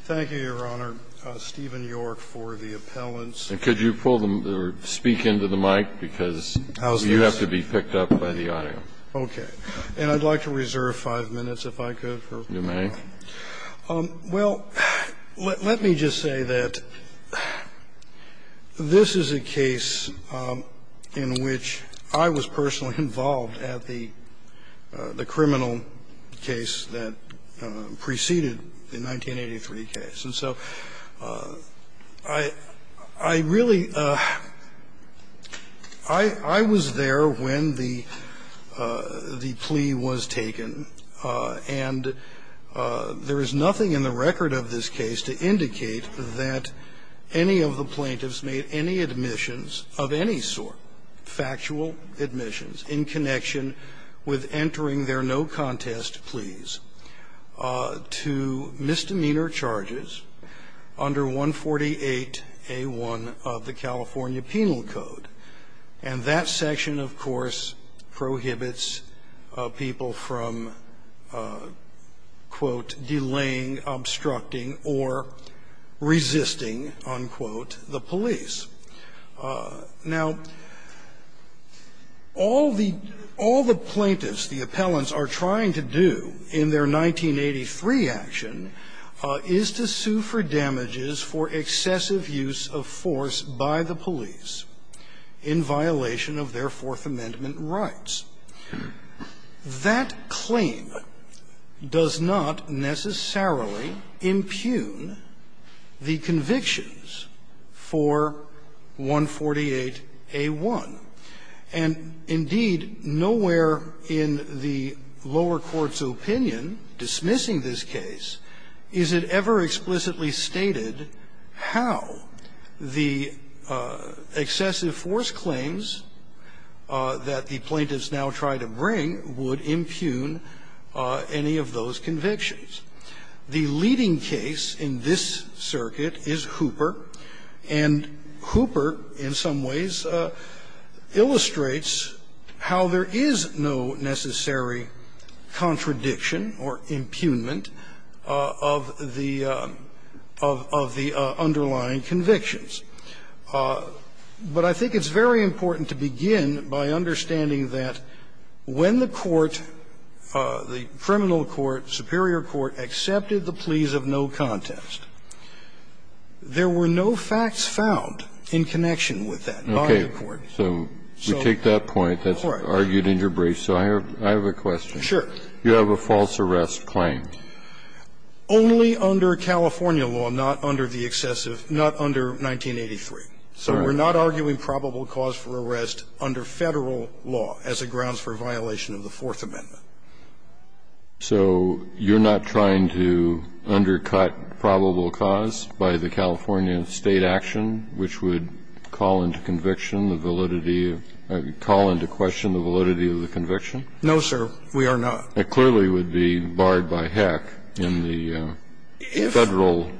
Thank you, Your Honor. Stephen York for the appellants. And could you pull them, or speak into the mic, because you have to be picked up by the audio. Okay. And I'd like to reserve five minutes if I could for... You may. Well, let me just say that this is a case in which I was personally involved at the criminal case that preceded the 1983 case. And so I really – I was there when the plea was taken, and I was there when the plea was taken, and there is nothing in the record of this case to indicate that any of the plaintiffs made any admissions of any sort, factual admissions, in connection with entering their no-contest pleas to misdemeanor charges under 148A1 of the California Code, quote, delaying, obstructing, or resisting, unquote, the police. Now, all the – all the plaintiffs, the appellants, are trying to do in their 1983 action is to sue for damages for excessive use of force by the police in violation of their Fourth Amendment rights. That claim does not necessarily impugn the convictions for 148A1. And indeed, nowhere in the lower court's opinion, dismissing this case, is it ever explicitly stated how the excessive force claims that the plaintiffs now try to bring would impugn any of those convictions. The leading case in this circuit is Hooper, and Hooper, in some ways, illustrates how there is no necessary contradiction or impugnment of the underlying convictions. But I think it's very important to begin by understanding that when the court, the criminal court, superior court, accepted the pleas of no contest, there were no facts found in connection with that by the court. So we take that point. That's argued in your brief. So I have a question. Sure. You have a false arrest claim. Only under California law, not under the excessive – not under 1983. So we're not arguing probable cause for arrest under Federal law as it grounds for violation of the Fourth Amendment. So you're not trying to undercut probable cause by the California State action, which would call into conviction the validity of – call into question the validity of the conviction? No, sir, we are not. It clearly would be barred by heck in the Federal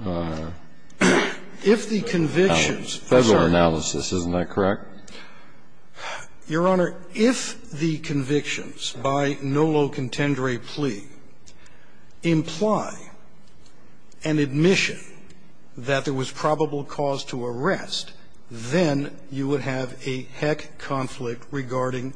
analysis, isn't that correct? Your Honor, if the convictions by nolo contendere plea imply an admission that there was probable cause to arrest, then you would have a heck conflict regarding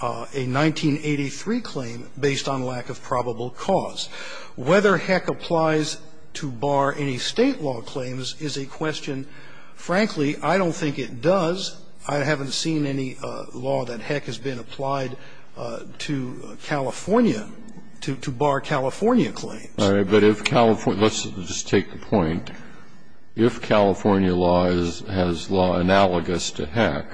a 1983 claim based on lack of probable cause. Whether heck applies to bar any State law claims is a question. Frankly, I don't think it does. I haven't seen any law that heck has been applied to California to bar California claims. All right. But if California – let's just take the point. If California law is – has law analogous to heck,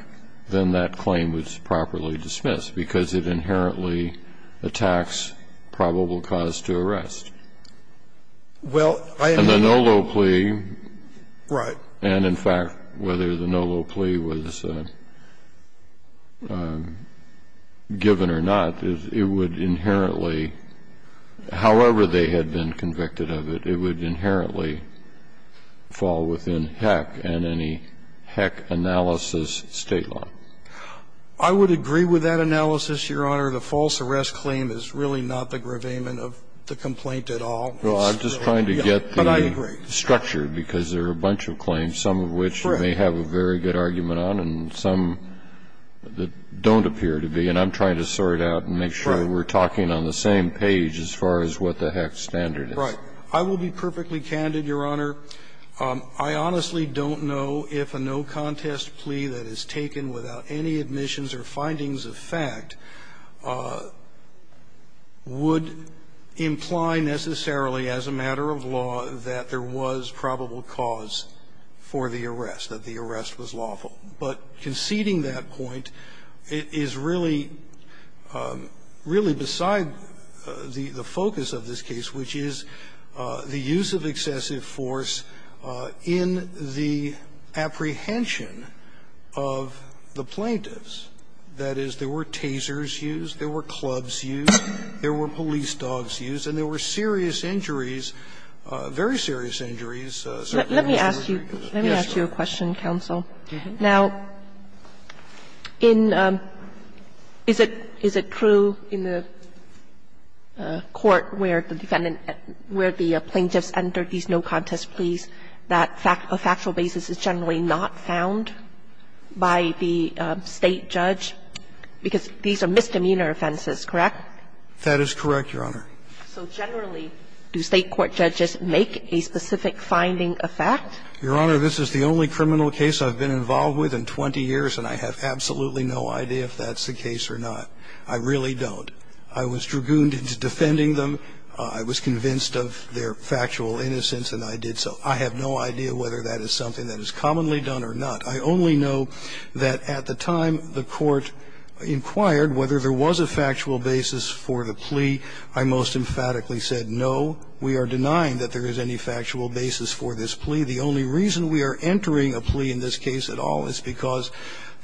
then that claim is properly dismissed because it inherently attacks probable cause to arrest. Well, I am – And the nolo plea – Right. And, in fact, whether the nolo plea was given or not, it would inherently – however they had been convicted of it, it would inherently fall within heck and any heck analysis State law. I would agree with that analysis, Your Honor. The false arrest claim is really not the gravamen of the complaint at all. Well, I'm just trying to get the structure because there are a bunch of claims, some of which you may have a very good argument on and some that don't appear to be, and I'm trying to sort out and make sure we're talking on the same page as far as what the heck standard is. Right. I will be perfectly candid, Your Honor. I honestly don't know if a no-contest plea that is taken without any admissions or findings of fact would imply necessarily as a matter of law that there was probable cause for the arrest, that the arrest was lawful. But conceding that point is really – really beside the focus of this case, which is the use of excessive force in the apprehension of the plaintiffs. That is, there were tasers used, there were clubs used, there were police dogs used, and there were serious injuries, very serious injuries. Let me ask you – let me ask you a question, counsel. Now, in – is it true in the court where the defendant – where the plaintiffs entered these no-contest pleas that a factual basis is generally not found by the State judge, because these are misdemeanor offenses, correct? That is correct, Your Honor. So generally, do State court judges make a specific finding of fact? Your Honor, this is the only criminal case I've been involved with in 20 years, and I have absolutely no idea if that's the case or not. I really don't. I was dragooned into defending them. I was convinced of their factual innocence, and I did so. I have no idea whether that is something that is commonly done or not. I only know that at the time the Court inquired whether there was a factual basis for the plea, I most emphatically said, no, we are denying that there is any factual basis for this plea. The only reason we are entering a plea in this case at all is because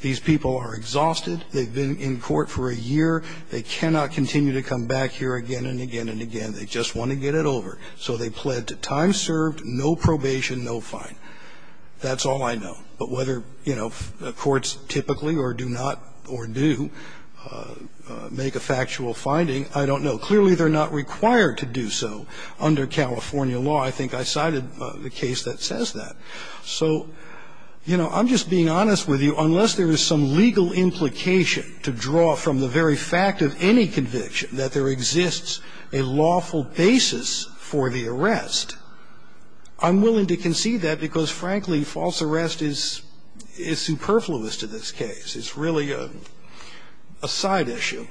these people are exhausted. They've been in court for a year. They cannot continue to come back here again and again and again. They just want to get it over. So they pled to time served, no probation, no fine. That's all I know. But whether, you know, courts typically or do not, or do, make a factual finding, I don't know. Clearly, they're not required to do so under California law. I think I cited the case that says that. So, you know, I'm just being honest with you. Unless there is some legal implication to draw from the very fact of any conviction that there exists a lawful basis for the arrest, I'm willing to concede that because, frankly, false arrest is superfluous to this case. It's really a side issue.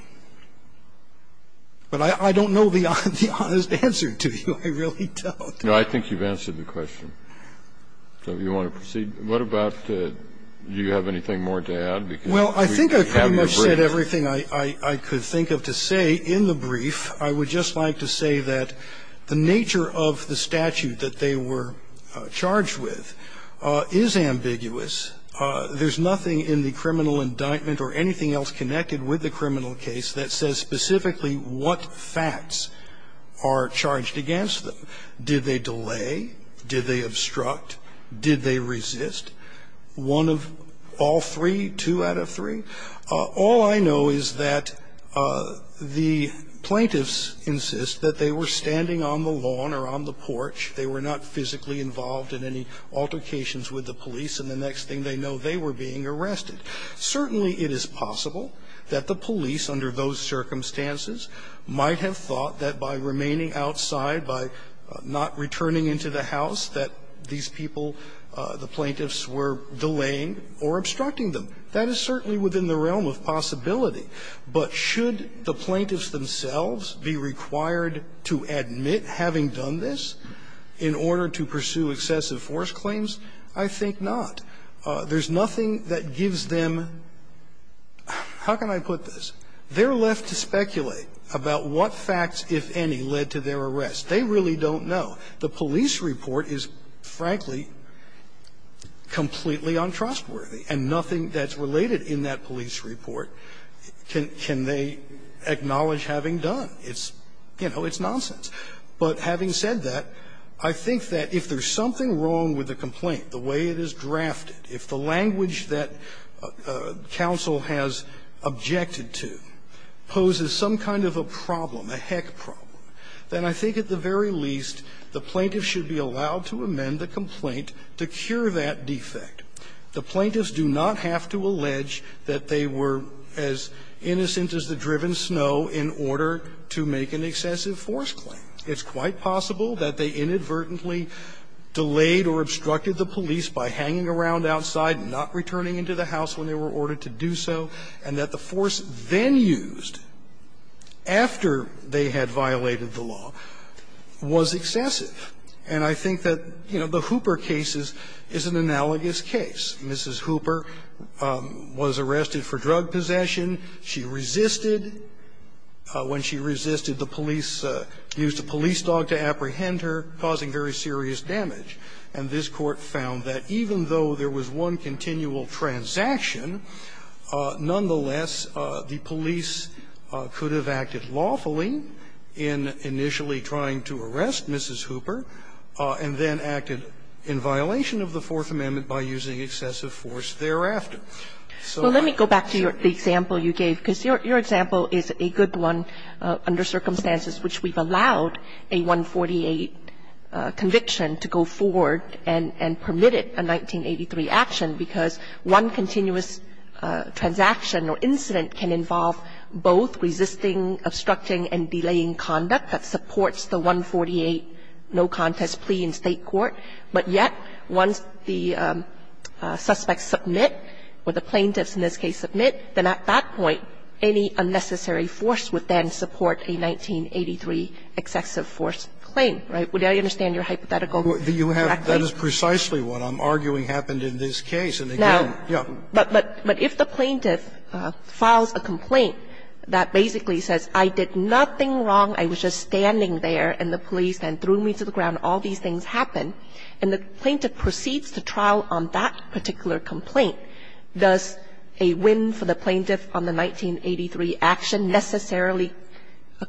But I don't know the honest answer to you. I really don't. Kennedy. I think you've answered the question. So if you want to proceed, what about the do you have anything more to add? Well, I think I've pretty much said everything I could think of to say in the brief. I would just like to say that the nature of the statute that they were charged with is ambiguous. There's nothing in the criminal indictment or anything else connected with the criminal case that says specifically what facts are charged against them. Did they delay? Did they obstruct? Did they resist? One of all three, two out of three? All I know is that the plaintiffs insist that they were standing on the lawn or on the porch. They were not physically involved in any altercations with the police, and the next thing they know, they were being arrested. Certainly it is possible that the police, under those circumstances, might have thought that by remaining outside, by not returning into the house, that these people, the plaintiffs, were delaying or obstructing them. That is certainly within the realm of possibility. But should the plaintiffs themselves be required to admit having done this in order to pursue excessive force claims? I think not. There's nothing that gives them – how can I put this? They're left to speculate about what facts, if any, led to their arrest. They really don't know. The police report is, frankly, completely untrustworthy, and nothing that's related in that police report can they acknowledge having done. It's, you know, it's nonsense. But having said that, I think that if there's something wrong with the complaint, the way it is drafted, if the language that counsel has objected to poses some kind of a problem, a heck problem, then I think at the very least the plaintiffs should be allowed to amend the complaint to cure that defect. The plaintiffs do not have to allege that they were as innocent as the driven snow in order to make an excessive force claim. It's quite possible that they inadvertently delayed or obstructed the police by hanging around outside, not returning into the house when they were ordered to do so, and that the force then used after they had violated the law was excessive. And I think that, you know, the Hooper case is an analogous case. Mrs. Hooper was arrested for drug possession. She resisted. When she resisted, the police used a police dog to apprehend her, causing very serious damage. And this Court found that even though there was one continual transaction, nonetheless, the police could have acted lawfully in initially trying to arrest Mrs. Hooper, and then acted in violation of the Fourth Amendment by using excessive force thereafter. Kagan. Kagan. Well, let me go back to the example you gave, because your example is a good one under circumstances which we've allowed a 148 conviction to go forward and permit it, a 1983 action, because one continuous transaction or incident can involve both resisting, obstructing, and delaying conduct that supports the 148 no contest plea in State court. But yet, once the suspects submit, or the plaintiffs in this case submit, then at that point, any unnecessary force would then support a 1983 excessive force claim, right? Would I understand your hypothetical? Do you have the case? That is precisely what I'm arguing happened in this case. And again, yeah. But if the plaintiff files a complaint that basically says, I did nothing wrong, I was just standing there, and the police then threw me to the ground, all these things happen, and the plaintiff proceeds to trial on that particular complaint, does a win for the plaintiff on the 1983 action necessarily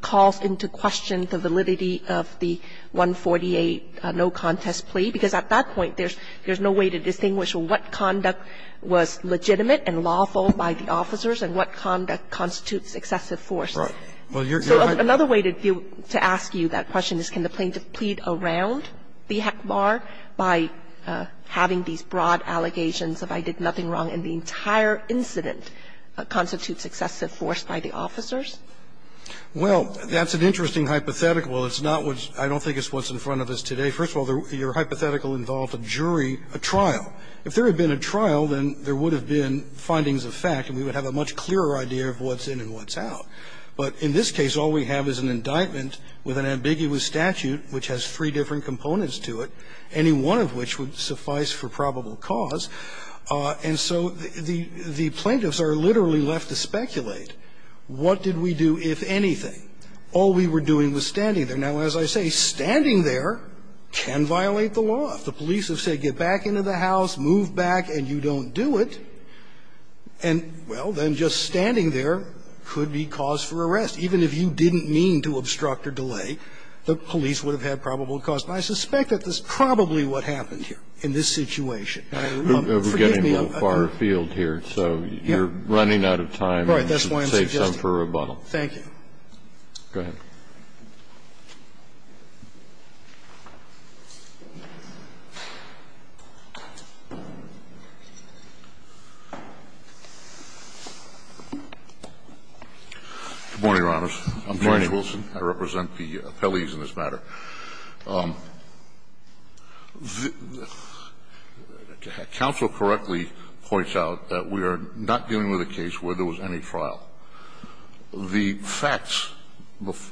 cause into question the validity of the 148 no contest plea? Because at that point, there's no way to distinguish what conduct was legitimate and lawful by the officers and what conduct constitutes excessive force. So another way to ask you that question is, can the plaintiff plead around the heck bar by having these broad allegations of I did nothing wrong and the entire incident constitutes excessive force by the officers? Well, that's an interesting hypothetical. It's not what's – I don't think it's what's in front of us today. First of all, your hypothetical involved a jury, a trial. If there had been a trial, then there would have been findings of fact and we would have a much clearer idea of what's in and what's out. But in this case, all we have is an indictment with an ambiguous statute which has three different components to it, any one of which would suffice for probable cause. And so the plaintiffs are literally left to speculate. What did we do, if anything? All we were doing was standing there. Now, as I say, standing there can violate the law. If the police have said, get back into the house, move back, and you don't do it, and, well, then just standing there could be cause for arrest. Even if you didn't mean to obstruct or delay, the police would have had probable cause. And I suspect that's probably what happened here in this situation. Forgive me, I don't know. Kennedy, we're getting a little far afield here, so you're running out of time. All right. Save some for rebuttal. Thank you. Go ahead. Good morning, Your Honors. I'm George Wilson. I represent the appellees in this matter. Counsel correctly points out that we are not dealing with a case where there was any trial. The facts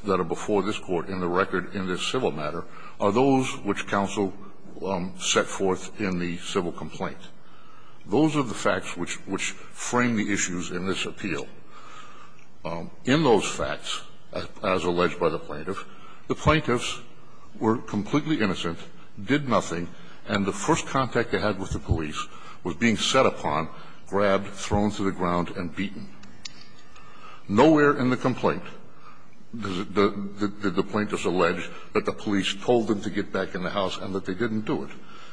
that are before this Court in the record in this civil matter are those which counsel set forth in the civil complaint. Those are the facts which frame the issues in this appeal. In those facts, as alleged by the plaintiff, the plaintiffs were completely innocent, did nothing, and the first contact they had with the police was being set up by the plaintiff. Nowhere in the complaint did the plaintiffs allege that the police told them to get back in the house and that they didn't do it.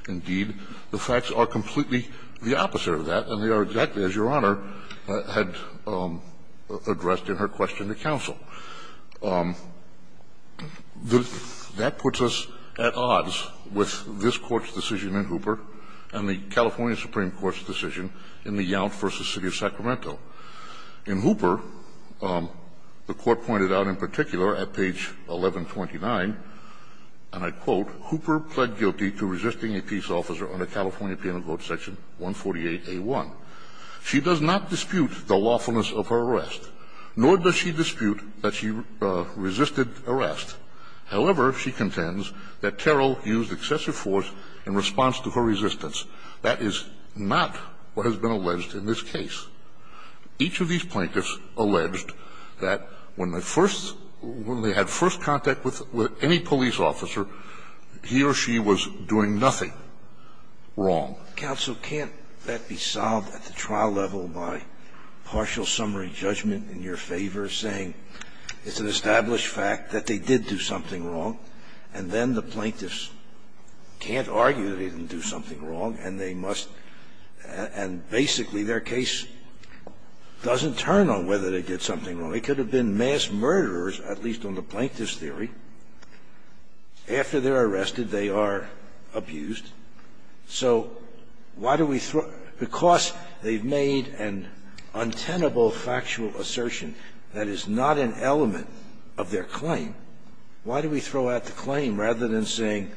Indeed, the facts are completely the opposite of that, and they are exactly as Your Honor had addressed in her question to counsel. That puts us at odds with this Court's decision in Hooper and the California Supreme Court's decision in the Yount v. City of Sacramento. In Hooper, the Court pointed out in particular at page 1129, and I quote, Hooper pled guilty to resisting a peace officer under California Penal Code Section 148a1. She does not dispute the lawfulness of her arrest, nor does she dispute that she resisted arrest. However, she contends that Terrell used excessive force in response to her resistance. That is not what has been alleged in this case. Each of these plaintiffs alleged that when they first – when they had first contact with any police officer, he or she was doing nothing wrong. Scalia. Counsel, can't that be solved at the trial level by partial summary judgment in your favor, saying it's an established fact that they did do something wrong, and then the plaintiffs can't argue that they didn't do something wrong, and they must – and basically their case doesn't turn on whether they did something wrong. They could have been mass murderers, at least on the plaintiff's theory. After they're arrested, they are abused. So why do we throw – because they've made an untenable factual assertion that is not an element of their claim, why do we throw out the claim rather than saying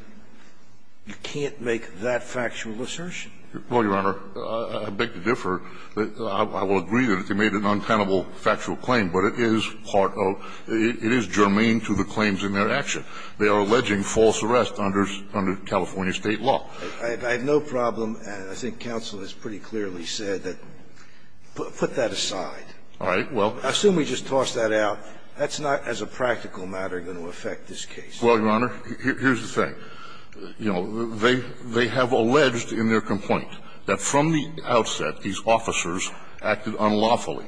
you can't make that factual assertion? Well, Your Honor, I beg to differ. I will agree that they made an untenable factual claim, but it is part of – it is germane to the claims in their action. They are alleging false arrest under California State law. I have no problem. I think counsel has pretty clearly said that – put that aside. All right. Well. I assume we just toss that out. That's not, as a practical matter, going to affect this case. Well, Your Honor, here's the thing. You know, they have alleged in their complaint that from the outset these officers acted unlawfully.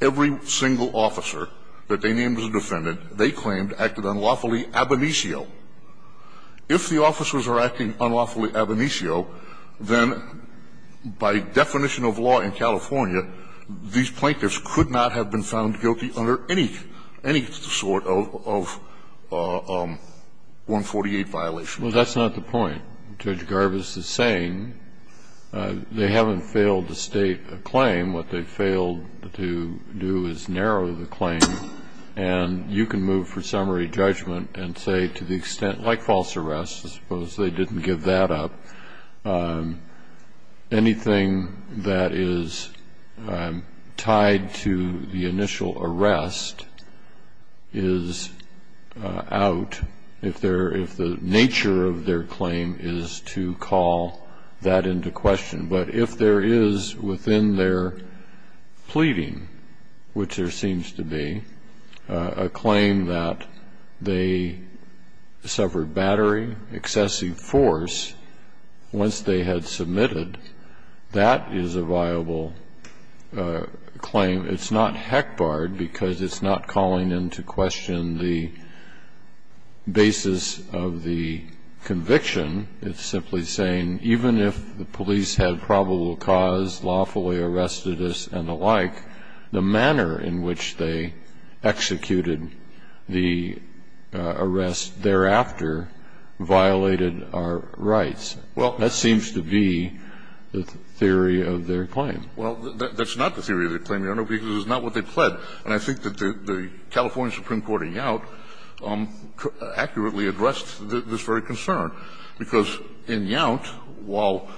Every single officer that they named as a defendant, they claimed, acted unlawfully ab initio. If the officers are acting unlawfully ab initio, then by definition of law in California, these plaintiffs could not have been found guilty under any sort of 148 violation. Well, that's not the point. Judge Garbus is saying they haven't failed to state a claim. What they failed to do is narrow the claim. And you can move for summary judgment and say to the extent – like false arrest, I suppose they didn't give that up. Anything that is tied to the initial arrest is out if the nature of their claim is to call that into question. But if there is within their pleading, which there seems to be, a claim that they suffered battery, excessive force, once they had submitted, that is a viable claim. It's not heck barred because it's not calling into question the basis of the conviction. It's simply saying even if the police had probable cause, lawfully arrested us and the like, the manner in which they executed the arrest thereafter violated our rights. Well, that seems to be the theory of their claim. Well, that's not the theory of their claim, Your Honor, because it's not what they pled. And I think that the California Supreme Court in Yount accurately addressed this very concern. Because in Yount, while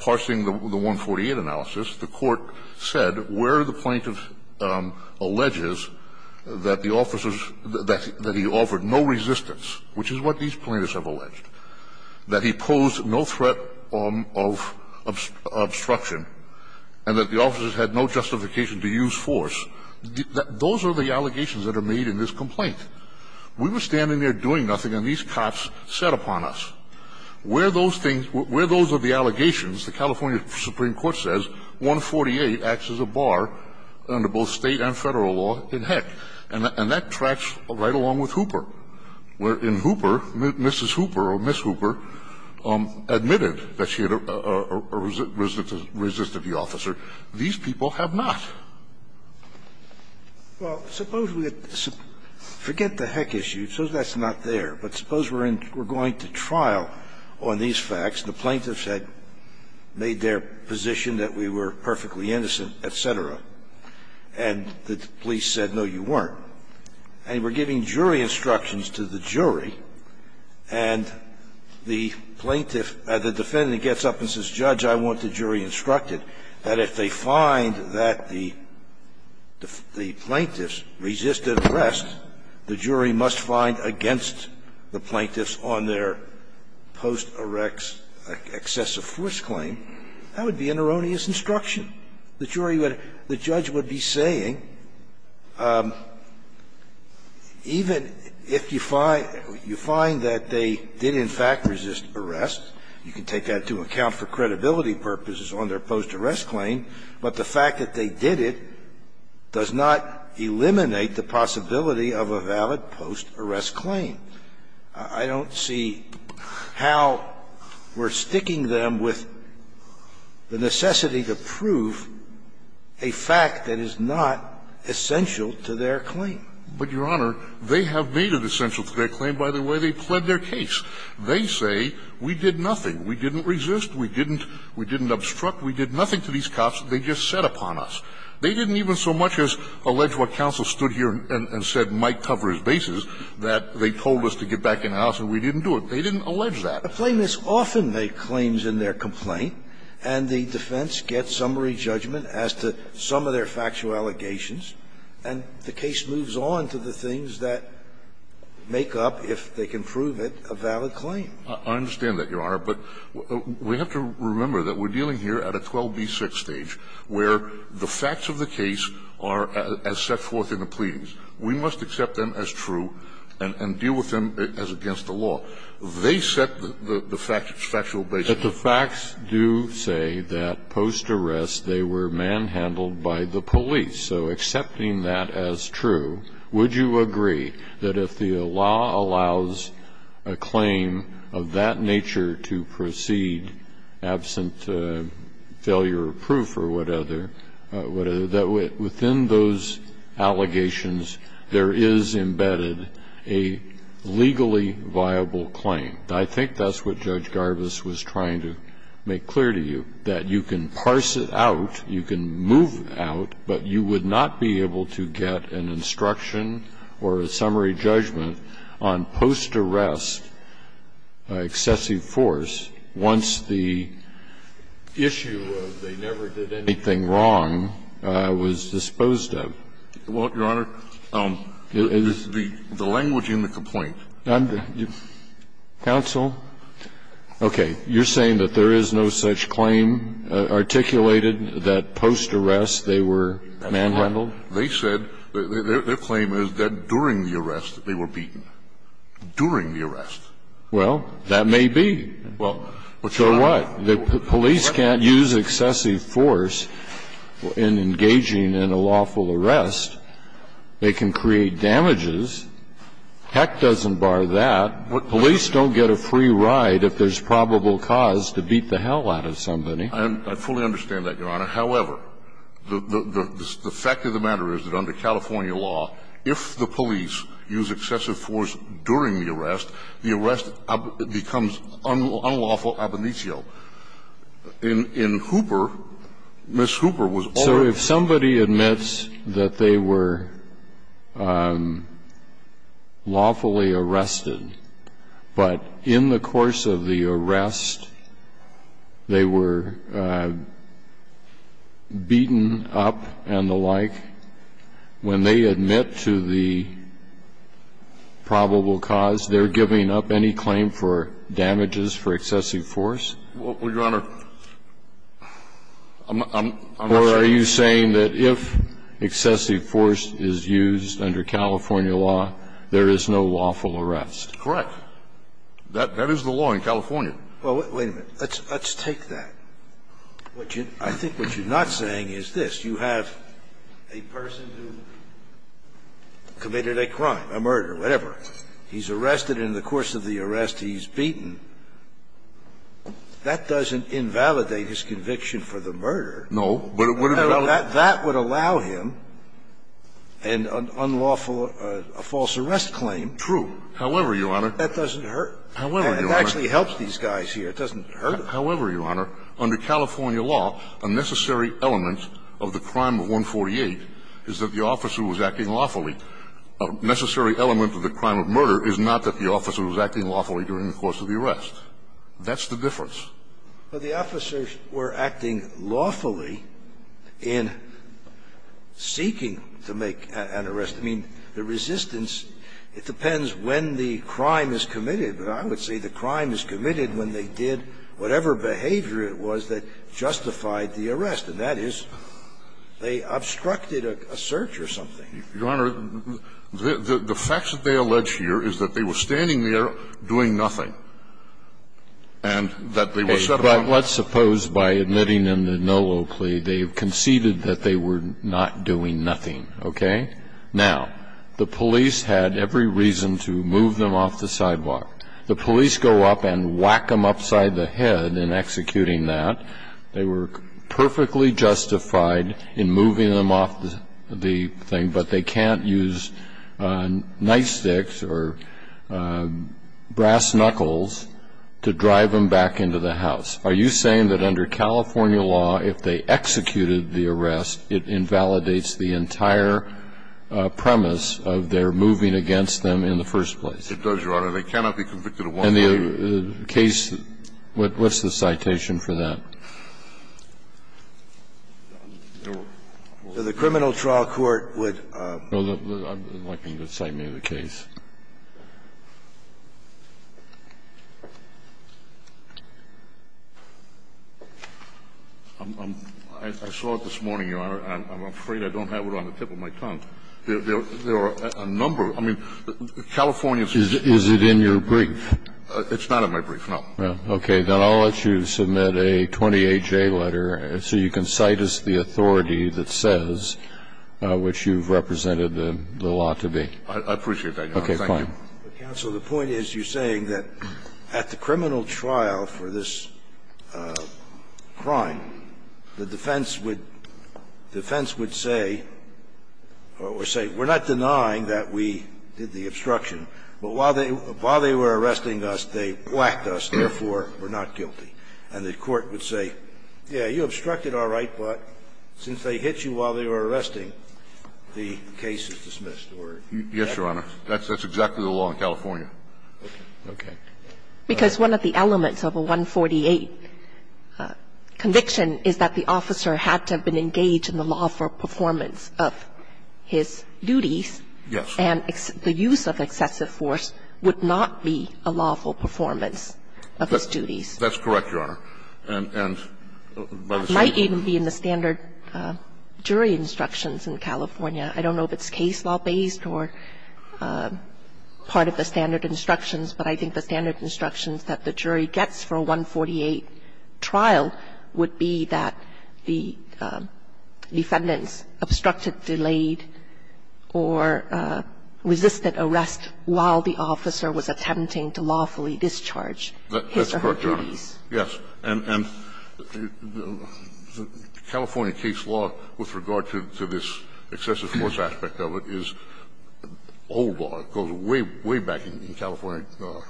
parsing the 148 analysis, the Court said where the plaintiff alleges that the officers – that he offered no resistance, which is what these plaintiffs have alleged, that he posed no threat of obstruction, and that the officers had no justification to use force, those are the allegations that are made in this complaint. We were standing there doing nothing, and these cops sat upon us. Where those things – where those are the allegations, the California Supreme Court says 148 acts as a bar under both State and Federal law in Heck, and that tracks right along with Hooper, where in Hooper, Mrs. Hooper or Miss Hooper admitted that she had resisted the officer. These people have not. Well, suppose we had – forget the Heck issue, so that's not there. But suppose we're in – we're going to trial on these facts, and the plaintiffs had made their position that we were perfectly innocent, et cetera, and the police said, no, you weren't. And we're giving jury instructions to the jury, and the plaintiff – the defendant gets up and says, Judge, I want the jury instructed that if they find that the defendant or the plaintiffs resisted arrest, the jury must find against the plaintiffs on their post-erects excessive force claim, that would be an erroneous instruction. The jury would – the judge would be saying, even if you find – you find that they did in fact resist arrest, you can take that to account for credibility purposes on their post-arrest claim, but the fact that they did it does not eliminate the possibility of a valid post-arrest claim. I don't see how we're sticking them with the necessity to prove a fact that is not essential to their claim. But, Your Honor, they have made it essential to their claim by the way they pled their case. They say, we did nothing, we didn't resist, we didn't – we didn't obstruct – we did nothing to these cops, they just said upon us. They didn't even so much as allege what counsel stood here and said might cover his bases, that they told us to get back in the house and we didn't do it. They didn't allege that. The plaintiffs often make claims in their complaint, and the defense gets summary judgment as to some of their factual allegations, and the case moves on to the things that make up, if they can prove it, a valid claim. I understand that, Your Honor, but we have to remember that we're dealing here at a 12B6 stage where the facts of the case are as set forth in the pleadings. We must accept them as true and deal with them as against the law. They set the factual bases. But the facts do say that post-arrest they were manhandled by the police. So accepting that as true, would you agree that if the law allows a claim of that nature to proceed absent failure of proof or whatever, within those allegations there is embedded a legally viable claim? I think that's what Judge Garbus was trying to make clear to you, that you can assume that the plaintiffs did not be able to get an instruction or a summary judgment on post-arrest excessive force once the issue of they never did anything wrong was disposed of. Well, Your Honor, the language in the complaint. Counsel. Okay. You're saying that there is no such claim articulated that post-arrest they were manhandled? They said their claim is that during the arrest they were beaten. During the arrest. Well, but you're not going to be able to prove it. So what? The police can't use excessive force in engaging in a lawful arrest. They can create damages. Heck doesn't bar that. Police don't get a free ride if there's probable cause to beat the hell out of somebody. I fully understand that, Your Honor. However, the fact of the matter is that under California law, if the police use excessive force during the arrest, the arrest becomes unlawful ab initio. In Hooper, Ms. Hooper was ordered. So if somebody admits that they were lawfully arrested, but in the course of the arrest they were beaten up and the like, when they admit to the probable cause, they're giving up any claim for damages for excessive force? Well, Your Honor, I'm not sure. But are you saying that if excessive force is used under California law, there is no lawful arrest? Correct. That is the law in California. Well, wait a minute. Let's take that. I think what you're not saying is this. You have a person who committed a crime, a murder, whatever. He's arrested in the course of the arrest, he's beaten. That doesn't invalidate his conviction for the murder. No. That would allow him an unlawful, a false arrest claim. True. However, Your Honor. That doesn't hurt. However, Your Honor. It actually helps these guys here. It doesn't hurt them. However, Your Honor, under California law, a necessary element of the crime of 148 is that the officer was acting lawfully. A necessary element of the crime of murder is not that the officer was acting lawfully during the course of the arrest. That's the difference. Well, the officers were acting lawfully in seeking to make an arrest. I mean, the resistance, it depends when the crime is committed. But I would say the crime is committed when they did whatever behavior it was that justified the arrest, and that is they obstructed a search or something. Your Honor, the facts that they allege here is that they were standing there doing nothing, and that they were set on the ground. But let's suppose, by admitting them to no low plea, they conceded that they were not doing nothing, okay? Now, the police had every reason to move them off the sidewalk. The police go up and whack them upside the head in executing that. They were perfectly justified in moving them off the thing, but they can't use night snuckles to drive them back into the house. Are you saying that under California law, if they executed the arrest, it invalidates the entire premise of their moving against them in the first place? It does, Your Honor. They cannot be convicted of one thing. And the case what's the citation for that? The criminal trial court would. I'd like you to cite me the case. I saw it this morning, Your Honor, and I'm afraid I don't have it on the tip of my tongue. There are a number of, I mean, California's. Is it in your brief? It's not in my brief, no. Okay. Then I'll let you submit a 28-J letter so you can cite us the authority that says I appreciate that, Your Honor. Thank you. Counsel, the point is you're saying that at the criminal trial for this crime, the defense would say, or say, we're not denying that we did the obstruction, but while they were arresting us, they whacked us, therefore, we're not guilty. And the court would say, yes, you obstructed all right, but since they hit you while they were arresting, the case is dismissed. Yes, Your Honor. That's exactly the law in California. Okay. Because one of the elements of a 148 conviction is that the officer had to have been engaged in the lawful performance of his duties. Yes. And the use of excessive force would not be a lawful performance of his duties. That's correct, Your Honor. And by the same rule. It might even be in the standard jury instructions in California. I don't know if it's case law based or part of the standard instructions, but I think the standard instructions that the jury gets for a 148 trial would be that the defendants obstructed, delayed, or resisted arrest while the officer was attempting to lawfully discharge his or her duties. That's correct, Your Honor. Yes. And California case law with regard to this excessive force aspect of it is old law. It goes way, way back in California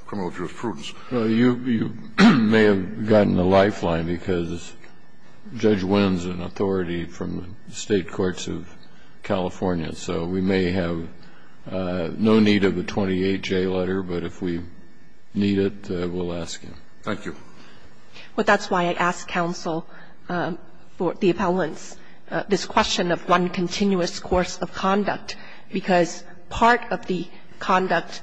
criminal jurisprudence. Well, you may have gotten a lifeline because Judge Wynn is an authority from the State Courts of California, so we may have no need of a 28J letter, but if we need it, we'll ask him. Thank you. Well, that's why I asked counsel for the appellants, this question of one continuous course of conduct, because part of the conduct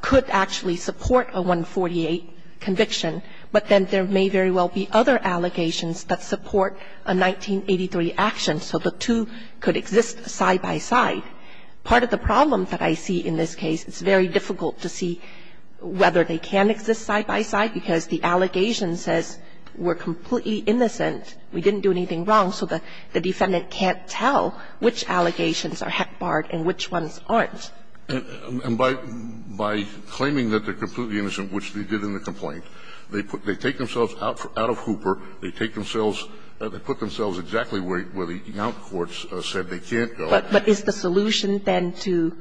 could actually support a 148 conviction, but then there may very well be other allegations that support a 1983 action, so the two could exist side by side. Part of the problem that I see in this case, it's very difficult to see whether they can exist side by side, because the allegation says we're completely innocent, we didn't do anything wrong, so the defendant can't tell which allegations are barred and which ones aren't. And by claiming that they're completely innocent, which they did in the complaint, they take themselves out of Hooper, they take themselves or they put themselves exactly where the Yount courts said they can't go. But is the solution then to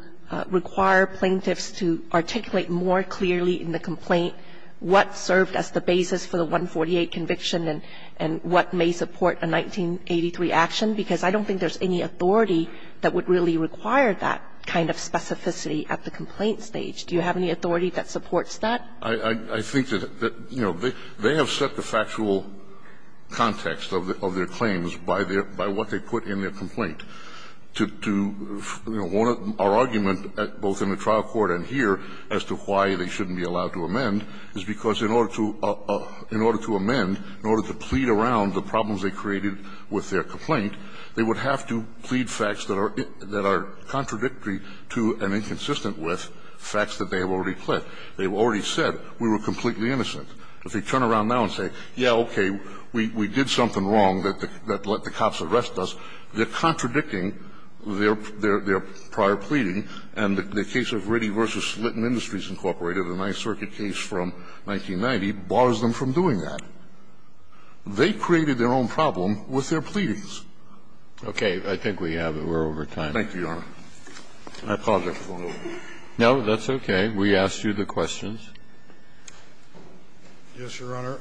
require plaintiffs to articulate more clearly in the complaint what served as the basis for the 148 conviction and what may support a 1983 action? Because I don't think there's any authority that would really require that kind of specificity at the complaint stage. Do you have any authority that supports that? I think that, you know, they have set the factual context of their claims by their by what they put in their complaint. To, you know, our argument both in the trial court and here as to why they shouldn't be allowed to amend is because in order to amend, in order to plead around the problems they created with their complaint, they would have to plead facts that are contradictory to and inconsistent with facts that they have already pled. They've already said we were completely innocent. If they turn around now and say, yeah, okay, we did something wrong that let the cops arrest us, they're contradicting their prior pleading. And the case of Ritty v. Litton Industries, Incorporated, a Ninth Circuit case from 1990, bars them from doing that. They created their own problem with their pleadings. Okay. I think we have it. We're over time. Thank you, Your Honor. Can I pause there for a moment? No, that's okay. We asked you the questions. Yes, Your Honor.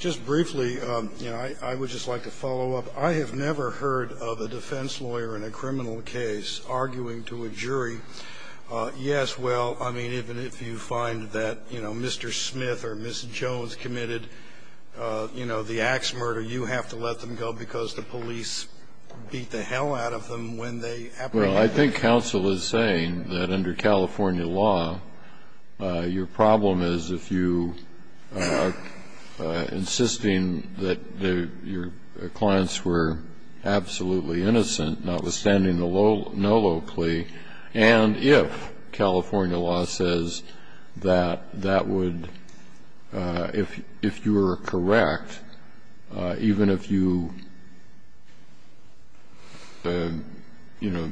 Just briefly, you know, I would just like to follow up. I have never heard of a defense lawyer in a criminal case arguing to a jury, yes, well, I mean, even if you find that, you know, Mr. Smith or Ms. Jones committed, you know, the ax murder, you have to let them go because the police beat the hell out of them when they apprehended them. Well, I think counsel is saying that under California law, your problem is if you are insisting that your clients were absolutely innocent, notwithstanding the no low plea, and if California law says that that would, if you were correct, even if you, you know,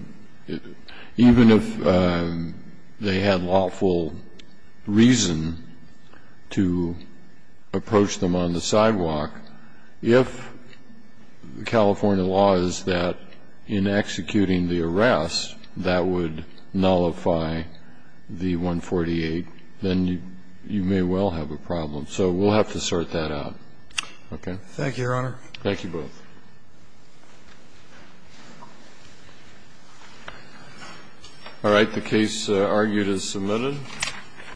even if they had lawful reason to approach them on the sidewalk, if California law is that in executing the arrest, that would nullify the 148, then you may well have a problem. So we'll have to sort that out. Okay. Thank you, Your Honor. Thank you both. All right. The case argued is submitted.